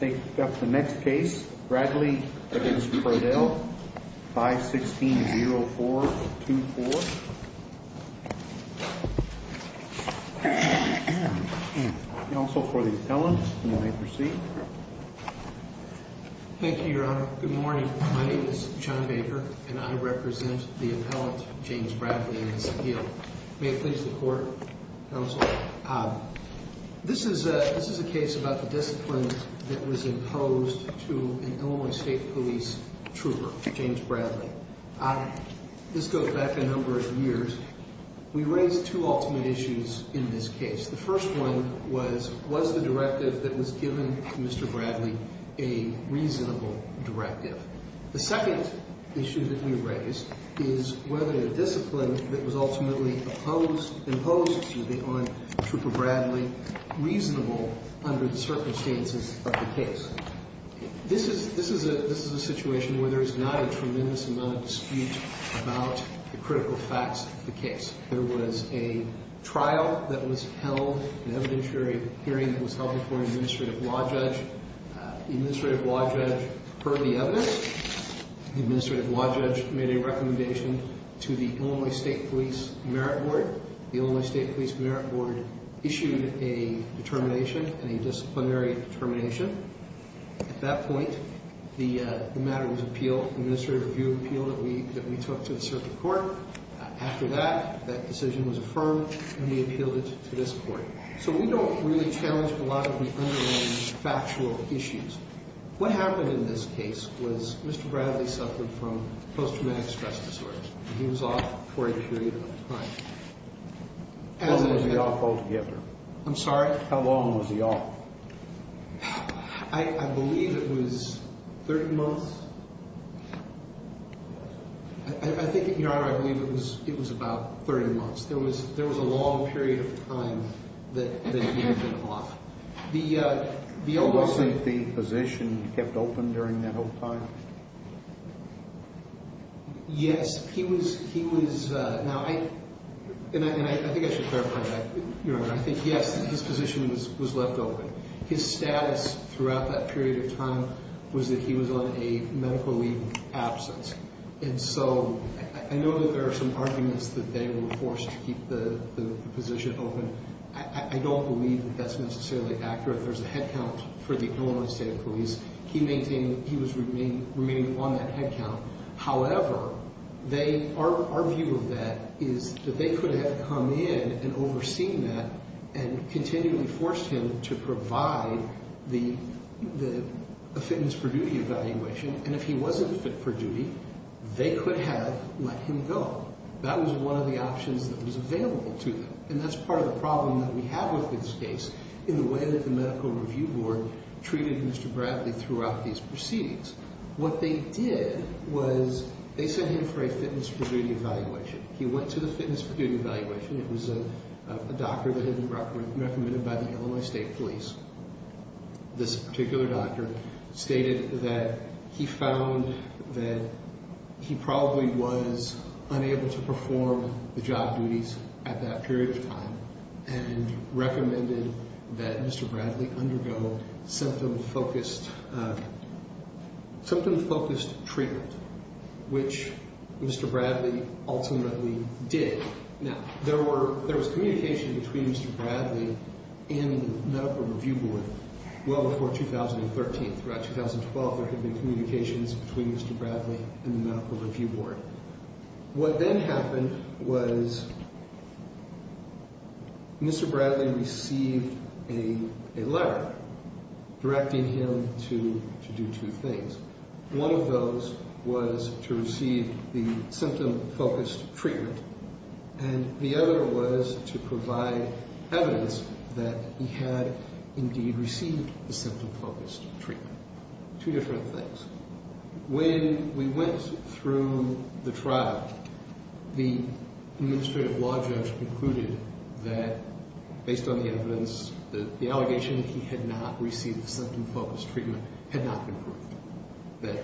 Take up the next case, Bradley v. Pradel, 516-0424. Counsel for the appellant, you may proceed. Thank you, Your Honor. Good morning. My name is John Baker, and I represent the appellant, James Bradley, in this appeal. May it please the Court, Counsel. This is a case about the discipline that was imposed to an Illinois State Police trooper, James Bradley. This goes back a number of years. We raised two ultimate issues in this case. The first one was, was the directive that was given to Mr. Bradley a reasonable directive? The second issue that we raised is whether the discipline that was ultimately imposed to the Illinois trooper, Bradley, reasonable under the circumstances of the case. This is a situation where there is not a tremendous amount of dispute about the critical facts of the case. There was a trial that was held, an evidentiary hearing that was held before an administrative law judge. The administrative law judge heard the evidence. The administrative law judge made a recommendation to the Illinois State Police Merit Board. The Illinois State Police Merit Board issued a determination, a disciplinary determination. At that point, the matter was appealed, an administrative review appeal that we took to the circuit court. After that, that decision was affirmed, and we appealed it to this Court. So we don't really challenge a lot of the underlying factual issues. What happened in this case was Mr. Bradley suffered from post-traumatic stress disorder. He was off for a period of time. How long was he off altogether? I'm sorry? How long was he off? I believe it was 30 months. I think, Your Honor, I believe it was about 30 months. There was a long period of time that he had been off. Wasn't the position kept open during that whole time? Yes, he was. Now, I think I should clarify that. Your Honor, I think, yes, his position was left open. His status throughout that period of time was that he was on a medical leave absence. And so I know that there are some arguments that they were forced to keep the position open. I don't believe that that's necessarily accurate. There's a headcount for the Illinois State Police. He was remaining on that headcount. However, our view of that is that they could have come in and overseen that and continually forced him to provide the fitness for duty evaluation. And if he wasn't fit for duty, they could have let him go. That was one of the options that was available to them. And that's part of the problem that we have with this case in the way that the Medical Review Board treated Mr. Bradley throughout these proceedings. What they did was they sent him for a fitness for duty evaluation. He went to the fitness for duty evaluation. It was a doctor that had been recommended by the Illinois State Police. This particular doctor stated that he found that he probably was unable to perform the job duties at that period of time and recommended that Mr. Bradley undergo symptom-focused treatment, which Mr. Bradley ultimately did. Now, there was communication between Mr. Bradley and the Medical Review Board well before 2013. Throughout 2012, there had been communications between Mr. Bradley and the Medical Review Board. What then happened was Mr. Bradley received a letter directing him to do two things. One of those was to receive the symptom-focused treatment, and the other was to provide evidence that he had indeed received the symptom-focused treatment. Two different things. When we went through the trial, the administrative law judge concluded that, based on the evidence, the allegation that he had not received the symptom-focused treatment had not been proved, that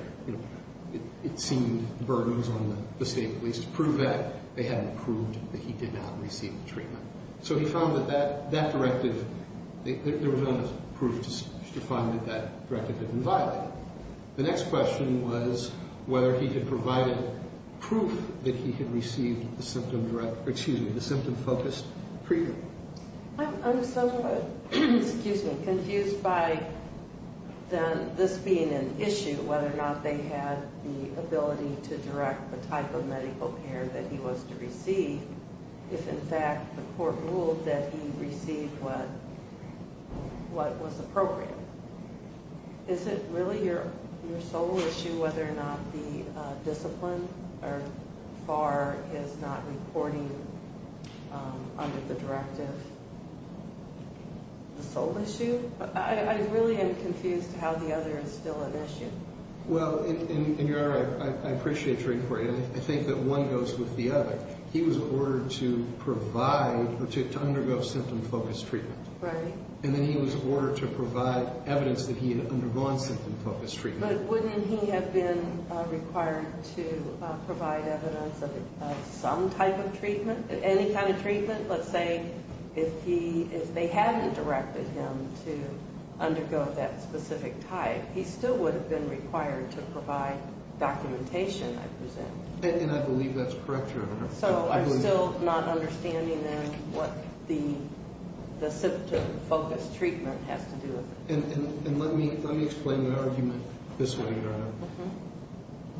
it seemed burdens on the State Police to prove that. They hadn't proved that he did not receive the treatment. So he found that that directive, there was enough proof to find that that directive had been violated. The next question was whether he had provided proof that he had received the symptom-focused treatment. I'm somewhat confused by this being an issue, whether or not they had the ability to direct the type of medical care that he was to receive, if, in fact, the court ruled that he received what was appropriate. Is it really your sole issue whether or not the discipline or FAR is not reporting under the directive? The sole issue? I really am confused how the other is still an issue. Well, and, Your Honor, I appreciate your inquiry. I think that one goes with the other. He was ordered to provide or to undergo symptom-focused treatment. Right. And then he was ordered to provide evidence that he had undergone symptom-focused treatment. But wouldn't he have been required to provide evidence of some type of treatment, any kind of treatment? Let's say if they hadn't directed him to undergo that specific type, he still would have been required to provide documentation, I presume. And I believe that's correct, Your Honor. So I'm still not understanding, then, what the symptom-focused treatment has to do with it. And let me explain my argument this way, Your Honor.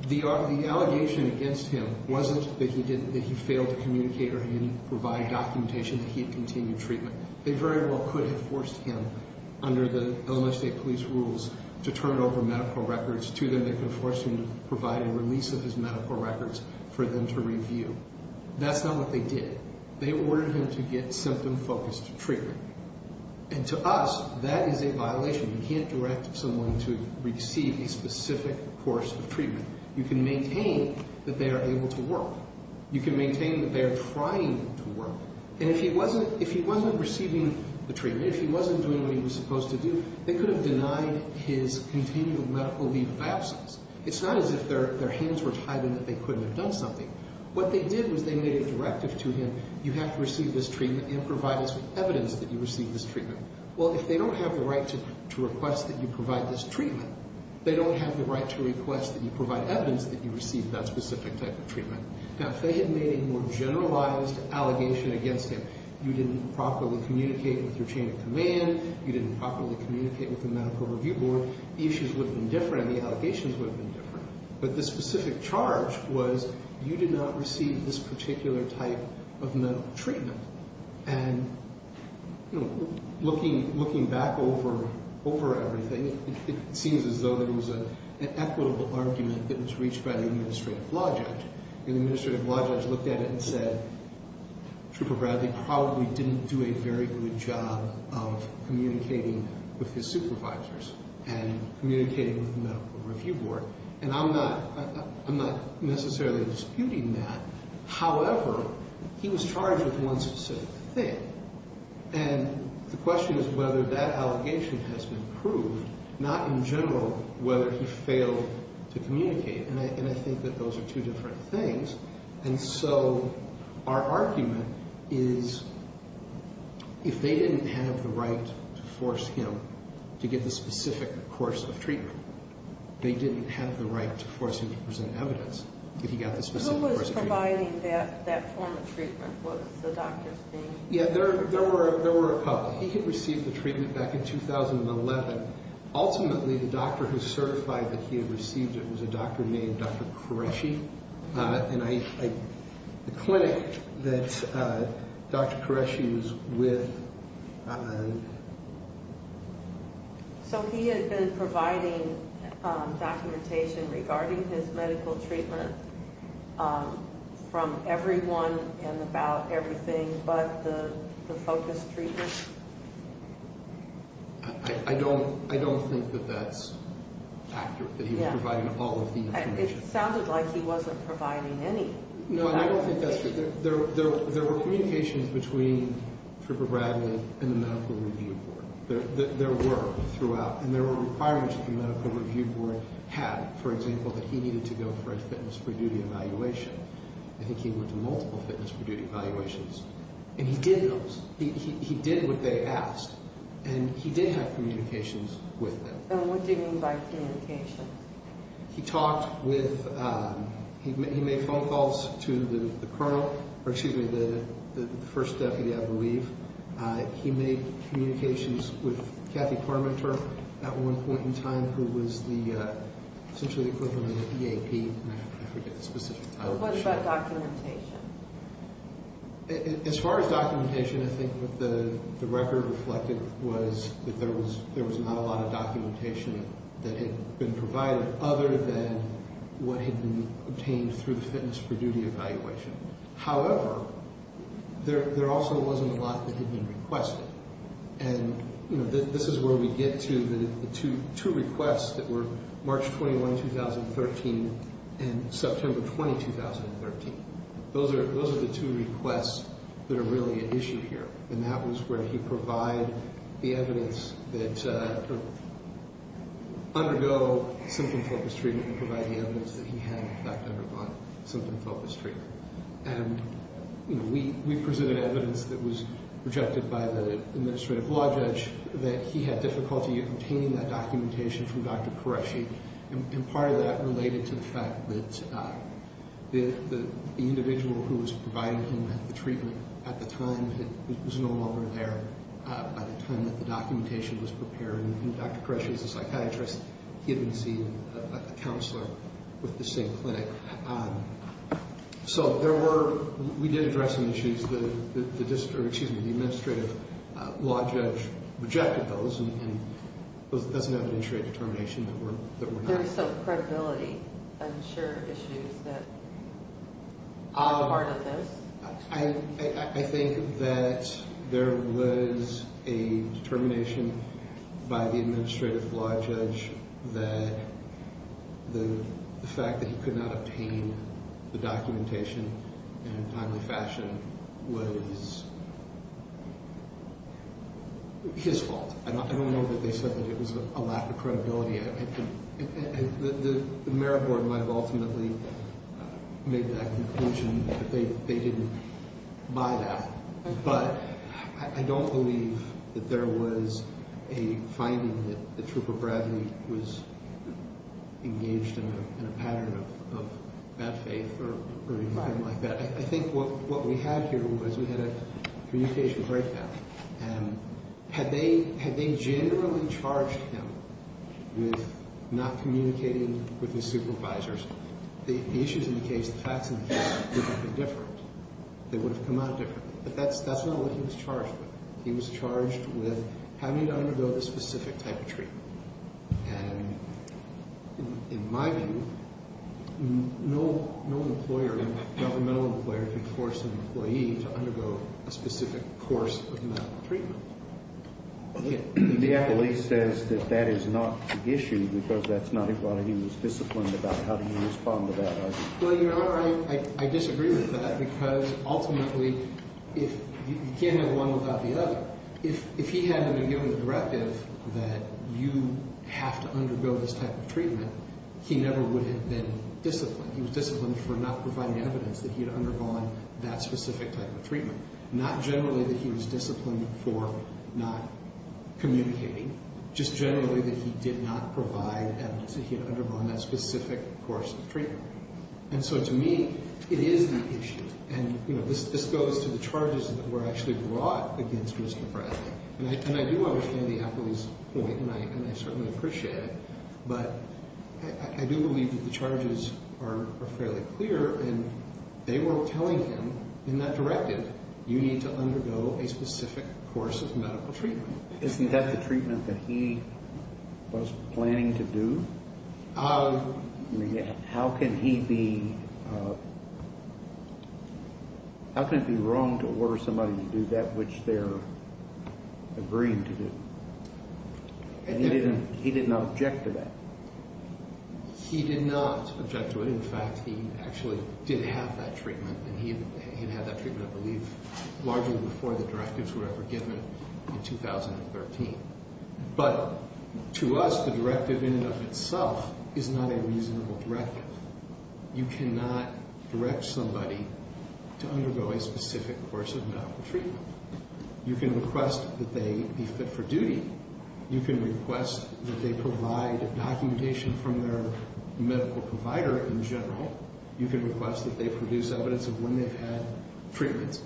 The allegation against him wasn't that he failed to communicate or he didn't provide documentation that he had continued treatment. They very well could have forced him, under the Illinois State Police rules, to turn over medical records to them that could have forced him to provide a release of his medical records for them to review. That's not what they did. They ordered him to get symptom-focused treatment. And to us, that is a violation. You can't direct someone to receive a specific course of treatment. You can maintain that they are able to work. You can maintain that they are trying to work. And if he wasn't receiving the treatment, if he wasn't doing what he was supposed to do, they could have denied his continued medical leave of absence. It's not as if their hands were tied in that they couldn't have done something. What they did was they made a directive to him, you have to receive this treatment and provide us with evidence that you received this treatment. Well, if they don't have the right to request that you provide this treatment, they don't have the right to request that you provide evidence that you received that specific type of treatment. Now, if they had made a more generalized allegation against him, you didn't properly communicate with your chain of command, you didn't properly communicate with the Medical Review Board, the issues would have been different and the allegations would have been different. But the specific charge was you did not receive this particular type of medical treatment. And looking back over everything, it seems as though there was an equitable argument that was reached by the Administrative Law Judge. And the Administrative Law Judge looked at it and said, Trooper Bradley probably didn't do a very good job of communicating with his supervisors and communicating with the Medical Review Board. And I'm not necessarily disputing that. However, he was charged with one specific thing. And the question is whether that allegation has been proved, not in general whether he failed to communicate. And I think that those are two different things. And so our argument is if they didn't have the right to force him to get the specific course of treatment, they didn't have the right to force him to present evidence that he got the specific course of treatment. Who was providing that form of treatment? What was the doctor's name? Yeah, there were a couple. He had received the treatment back in 2011. Ultimately, the doctor who certified that he had received it was a doctor named Dr. Koreshi. And the clinic that Dr. Koreshi was with. So he had been providing documentation regarding his medical treatment from everyone and about everything but the focus treatment? I don't think that that's accurate, that he was providing all of the information. It sounded like he wasn't providing any. No, and I don't think that's true. There were communications between Drupal Bradley and the medical review board. There were throughout. And there were requirements that the medical review board had. For example, that he needed to go for a fitness for duty evaluation. I think he went to multiple fitness for duty evaluations. And he did those. He did what they asked. And he did have communications with them. And what do you mean by communications? He talked with, he made phone calls to the colonel, or excuse me, the first deputy, I believe. He made communications with Kathy Parmenter at one point in time who was essentially the equivalent of the EAP. I forget the specific title. What about documentation? As far as documentation, I think what the record reflected was that there was not a lot of documentation that had been provided other than what had been obtained through the fitness for duty evaluation. However, there also wasn't a lot that had been requested. And this is where we get to the two requests that were March 21, 2013 and September 20, 2013. Those are the two requests that are really at issue here. And that was where he provided the evidence that undergo symptom-focused treatment and provide the evidence that he had, in fact, undergone symptom-focused treatment. And, you know, we presented evidence that was rejected by the administrative law judge that he had difficulty obtaining that documentation from Dr. Qureshi. And part of that related to the fact that the individual who was providing him with the treatment at the time was no longer there by the time that the documentation was prepared. And Dr. Qureshi is a psychiatrist. He had received a counselor with the same clinic. So we did address some issues. The administrative law judge rejected those. And that's an evidentiary determination that we're not. There's some credibility, I'm sure, issues that are part of this. I think that there was a determination by the administrative law judge that the fact that he could not obtain the documentation in a timely fashion was his fault. I don't know that they said that it was a lack of credibility. The merit board might have ultimately made that conclusion that they didn't buy that. But I don't believe that there was a finding that the Trooper Bradley was engaged in a pattern of bad faith or anything like that. I think what we had here was we had a communication breakdown. And had they generally charged him with not communicating with his supervisors, the issues in the case, the facts in the case, would have been different. They would have come out differently. But that's not what he was charged with. He was charged with having to undergo the specific type of treatment. And in my view, no employer, governmental employer, can force an employee to undergo a specific course of medical treatment. The affiliate says that that is not the issue because that's not what he was disciplined about. How do you respond to that? Well, Your Honor, I disagree with that because ultimately you can't have one without the other. If he had been given the directive that you have to undergo this type of treatment, he never would have been disciplined. He was disciplined for not providing evidence that he had undergone that specific type of treatment. Not generally that he was disciplined for not communicating, just generally that he did not provide evidence that he had undergone that specific course of treatment. And so to me, it is the issue. And, you know, this goes to the charges that were actually brought against Mr. Bradley. And I do understand the affiliate's point, and I certainly appreciate it. But I do believe that the charges are fairly clear, and they were telling him in that directive, you need to undergo a specific course of medical treatment. Isn't that the treatment that he was planning to do? I mean, how can he be wrong to order somebody to do that which they're agreeing to do? And he did not object to that. He did not object to it. In fact, he actually did have that treatment, and he had had that treatment, I believe, largely before the directives were ever given in 2013. But to us, the directive in and of itself is not a reasonable directive. You cannot direct somebody to undergo a specific course of medical treatment. You can request that they be fit for duty. You can request that they provide documentation from their medical provider in general. You can request that they produce evidence of when they've had treatments.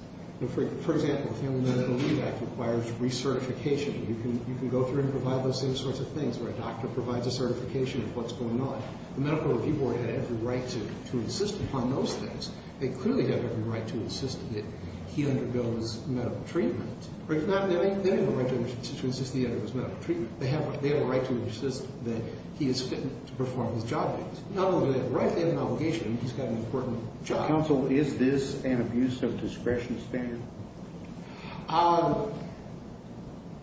For example, the Family Medical Leave Act requires recertification. You can go through and provide those same sorts of things where a doctor provides a certification of what's going on. The medical review board had every right to insist upon those things. They clearly have every right to insist that he undergoes medical treatment. Or if not, they have a right to insist that he undergoes medical treatment. They have a right to insist that he is fit to perform his job duties. Not only do they have a right, they have an obligation. He's got an important job. Counsel, is this an abuse of discretion standard? On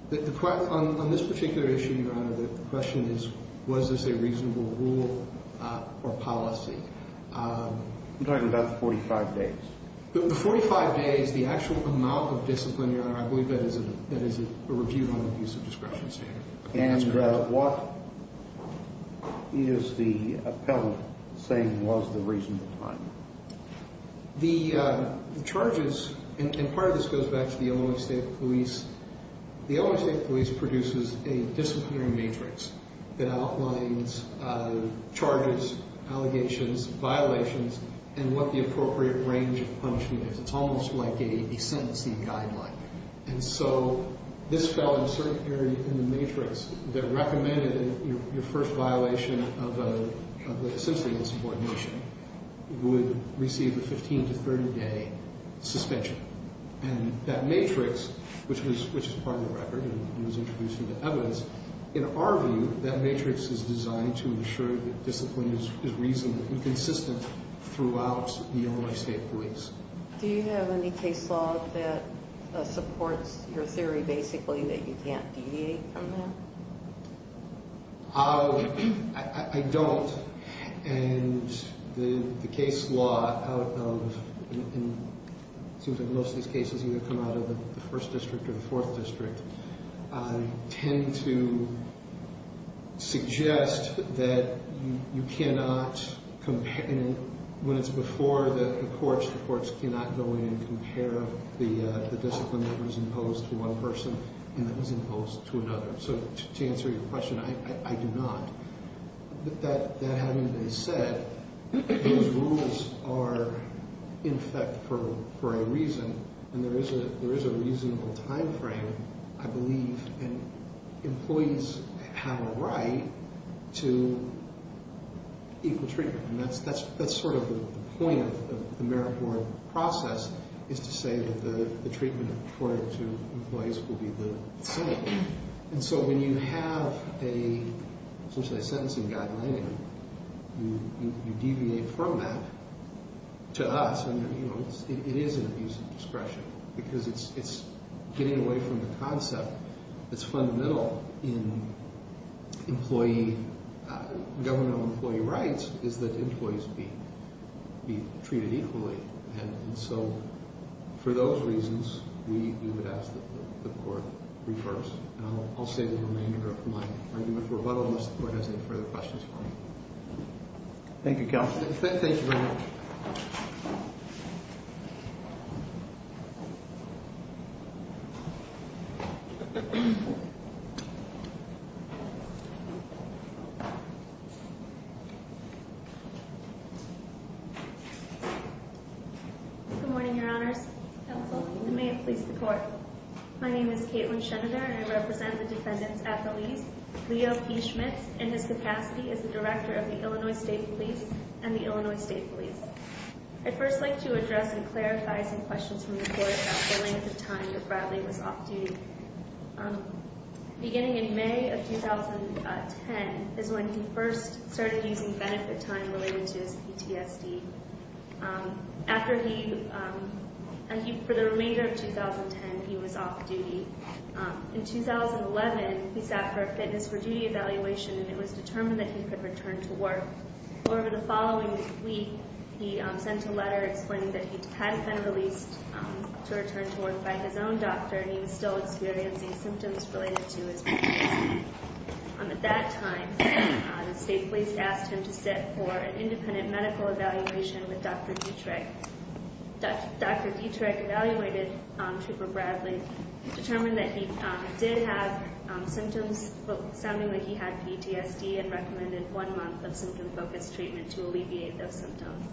this particular issue, Your Honor, the question is, was this a reasonable rule or policy? I'm talking about the 45 days. The 45 days, the actual amount of discipline, Your Honor, I believe that is a review on abuse of discretion standard. And what is the appellant saying was the reasonable time? The charges, and part of this goes back to the Illinois State Police. The Illinois State Police produces a disciplinary matrix that outlines charges, allegations, violations, and what the appropriate range of punishment is. It's almost like a sentencing guideline. And so this fell in a certain area in the matrix that recommended your first violation of a sentencing insubordination would receive a 15 to 30 day suspension. And that matrix, which is part of the record and was introduced into evidence, in our view, that matrix is designed to ensure that discipline is reasonably consistent throughout the Illinois State Police. Do you have any case law that supports your theory, basically, that you can't deviate from that? I don't. And the case law out of, it seems like most of these cases either come out of the first district or the fourth district, tend to suggest that you cannot, when it's before the courts, the courts cannot go in and compare the discipline that was imposed to one person and that was imposed to another. So to answer your question, I do not. But that having been said, those rules are in effect for a reason, and there is a reasonable time frame, I believe, and employees have a right to equal treatment. And that's sort of the point of the merit board process, is to say that the treatment accorded to employees will be the same. And so when you have essentially a sentencing guideline, you deviate from that to us, and it is an abuse of discretion, because it's getting away from the concept that's fundamental in government employee rights, is that employees be treated equally. And so for those reasons, we would ask that the court reverse. And I'll save the remainder of my argument for rebuttal unless the court has any further questions for me. Thank you, counsel. Thank you very much. Good morning, your honors. Counsel. You may have pleased the court. My name is Kaitlyn Schenender, and I represent the defendants at the lease. Leo P. Schmitz, in his capacity, is the director of the Illinois State Police and the Illinois State Police. I'd first like to address and clarify some questions from the court about the length of time that Bradley was off duty. Beginning in May of 2010 is when he first started using benefit time related to his PTSD. After he, for the remainder of 2010, he was off duty. In 2011, he sat for a fitness for duty evaluation, and it was determined that he could return to work. Over the following week, he sent a letter explaining that he hadn't been released to return to work by his own doctor, and he was still experiencing symptoms related to his PTSD. At that time, the state police asked him to sit for an independent medical evaluation with Dr. Dietrich. Dr. Dietrich evaluated Trooper Bradley, determined that he did have symptoms sounding like he had PTSD, and recommended one month of symptom-focused treatment to alleviate those symptoms.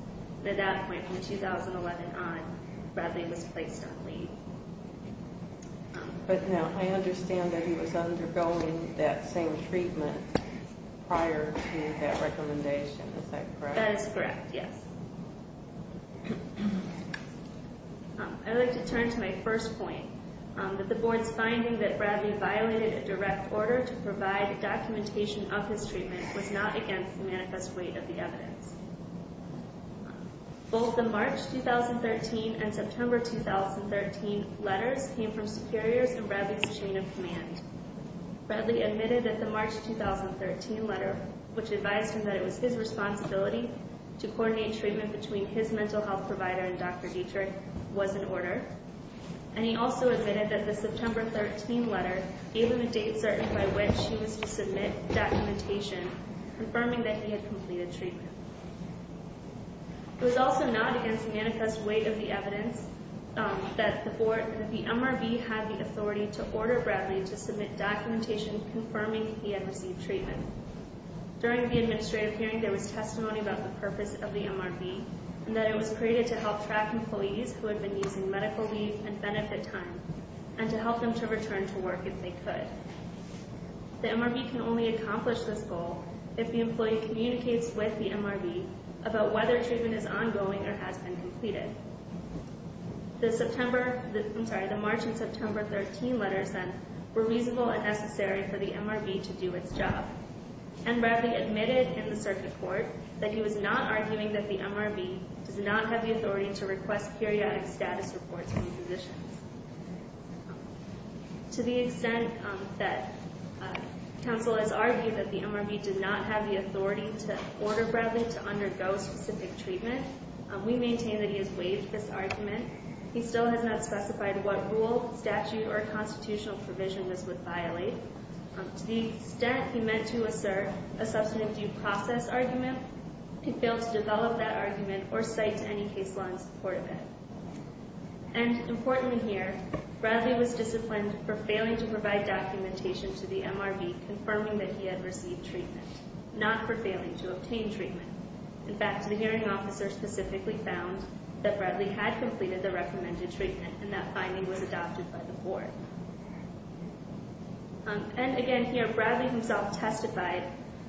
At that point, from 2011 on, Bradley was placed on leave. But now, I understand that he was undergoing that same treatment prior to that recommendation, is that correct? That is correct, yes. I'd like to turn to my first point, that the board's finding that Bradley violated a direct order to provide documentation of his treatment was not against the manifest weight of the evidence. Both the March 2013 and September 2013 letters came from superiors in Bradley's chain of command. Bradley admitted that the March 2013 letter, which advised him that it was his responsibility to coordinate treatment between his mental health provider and Dr. Dietrich, was in order. And he also admitted that the September 13 letter gave him a date certain by which he was to submit documentation confirming that he had completed treatment. It was also not against the manifest weight of the evidence that the MRV had the authority to order Bradley to submit documentation confirming he had received treatment. During the administrative hearing, there was testimony about the purpose of the MRV, and that it was created to help track employees who had been using medical leave and benefit time, and to help them to return to work if they could. The MRV can only accomplish this goal if the employee communicates with the MRV about whether treatment is ongoing or has been completed. The March and September 13 letters, then, were reasonable and necessary for the MRV to do its job. And Bradley admitted in the circuit court that he was not arguing that the MRV does not have the authority to request periodic status reports from physicians. To the extent that counsel has argued that the MRV did not have the authority to order Bradley to undergo specific treatment, we maintain that he has waived this argument. He still has not specified what rule, statute, or constitutional provision this would violate. To the extent he meant to assert a substantive due process argument, he failed to develop that argument or cite any case law in support of it. And, importantly here, Bradley was disciplined for failing to provide documentation to the MRV confirming that he had received treatment, not for failing to obtain treatment. In fact, the hearing officer specifically found that Bradley had completed the recommended treatment, and that finding was adopted by the board. And, again here, Bradley himself testified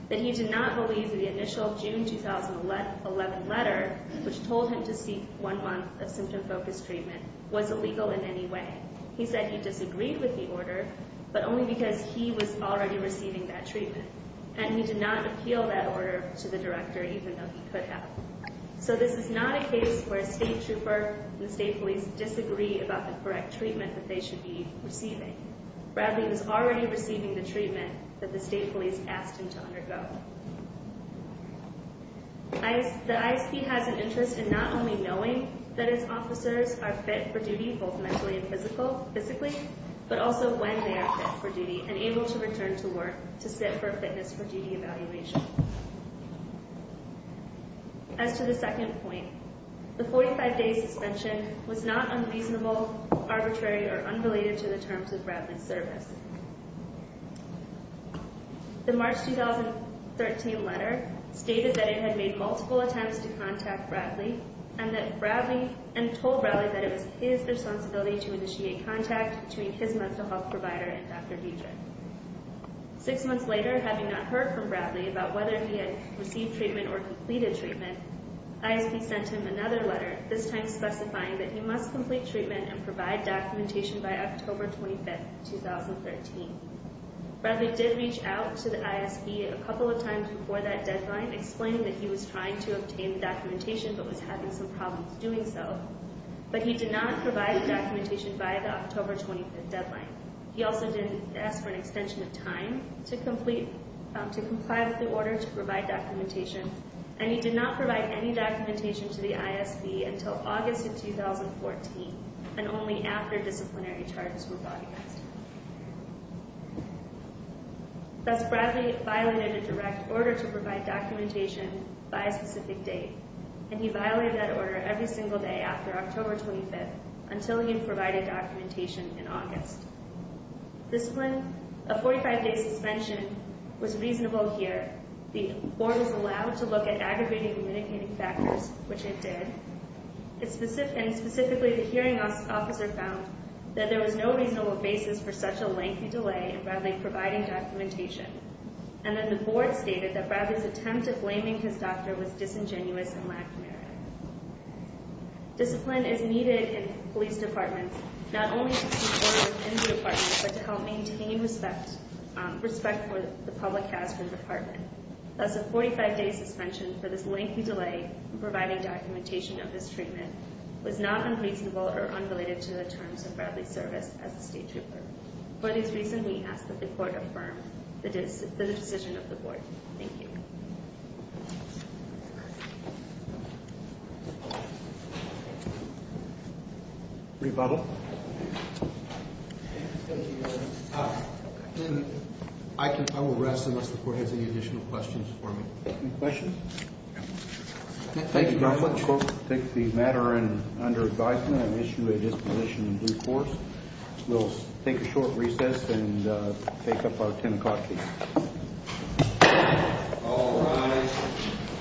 that he did not believe that the initial June 2011 letter, which told him to seek one month of symptom-focused treatment, was illegal in any way. He said he disagreed with the order, but only because he was already receiving that treatment. And he did not appeal that order to the director, even though he could have. So this is not a case where a state trooper and the state police disagree about the correct treatment that they should be receiving. Bradley was already receiving the treatment that the state police asked him to undergo. The ISP has an interest in not only knowing that its officers are fit for duty, both mentally and physically, but also when they are fit for duty, and able to return to work to sit for a fitness for duty evaluation. As to the second point, the 45-day suspension was not unreasonable, arbitrary, or unrelated to the terms of Bradley's service. The March 2013 letter stated that it had made multiple attempts to contact Bradley, and told Bradley that it was his responsibility to initiate contact between his mental health provider and Dr. Diedrich. Six months later, having not heard from Bradley about whether he had received treatment or completed treatment, ISP sent him another letter, this time specifying that he must complete treatment and provide documentation by October 25, 2013. Bradley did reach out to the ISP a couple of times before that deadline, explaining that he was trying to obtain the documentation, but was having some problems doing so. But he did not provide the documentation by the October 25 deadline. He also didn't ask for an extension of time to comply with the order to provide documentation. And he did not provide any documentation to the ISP until August of 2014, and only after disciplinary charges were brought against him. Thus, Bradley violated a direct order to provide documentation by a specific date, and he violated that order every single day after October 25, until he provided documentation in August. Discipline, a 45-day suspension, was reasonable here. The board was allowed to look at aggregating and mitigating factors, which it did. And specifically, the hearing officer found that there was no reasonable basis for such a lengthy delay in Bradley providing documentation. And then the board stated that Bradley's attempt at blaming his doctor was disingenuous and lacking merit. Discipline is needed in police departments not only to keep order within the department, but to help maintain respect for the public has for the department. Thus, a 45-day suspension for this lengthy delay in providing documentation of his treatment was not unreasonable or unrelated to the terms of Bradley's service as a state trooper. For this reason, we ask that the court affirm the decision of the board. Thank you. Rebuttal? Thank you, Your Honor. I will rest unless the court has any additional questions for me. Any questions? Thank you, counsel. The court will take the matter under advisement and issue a disposition in due course. We'll take a short recess and take up our 10 o'clock meeting. All rise.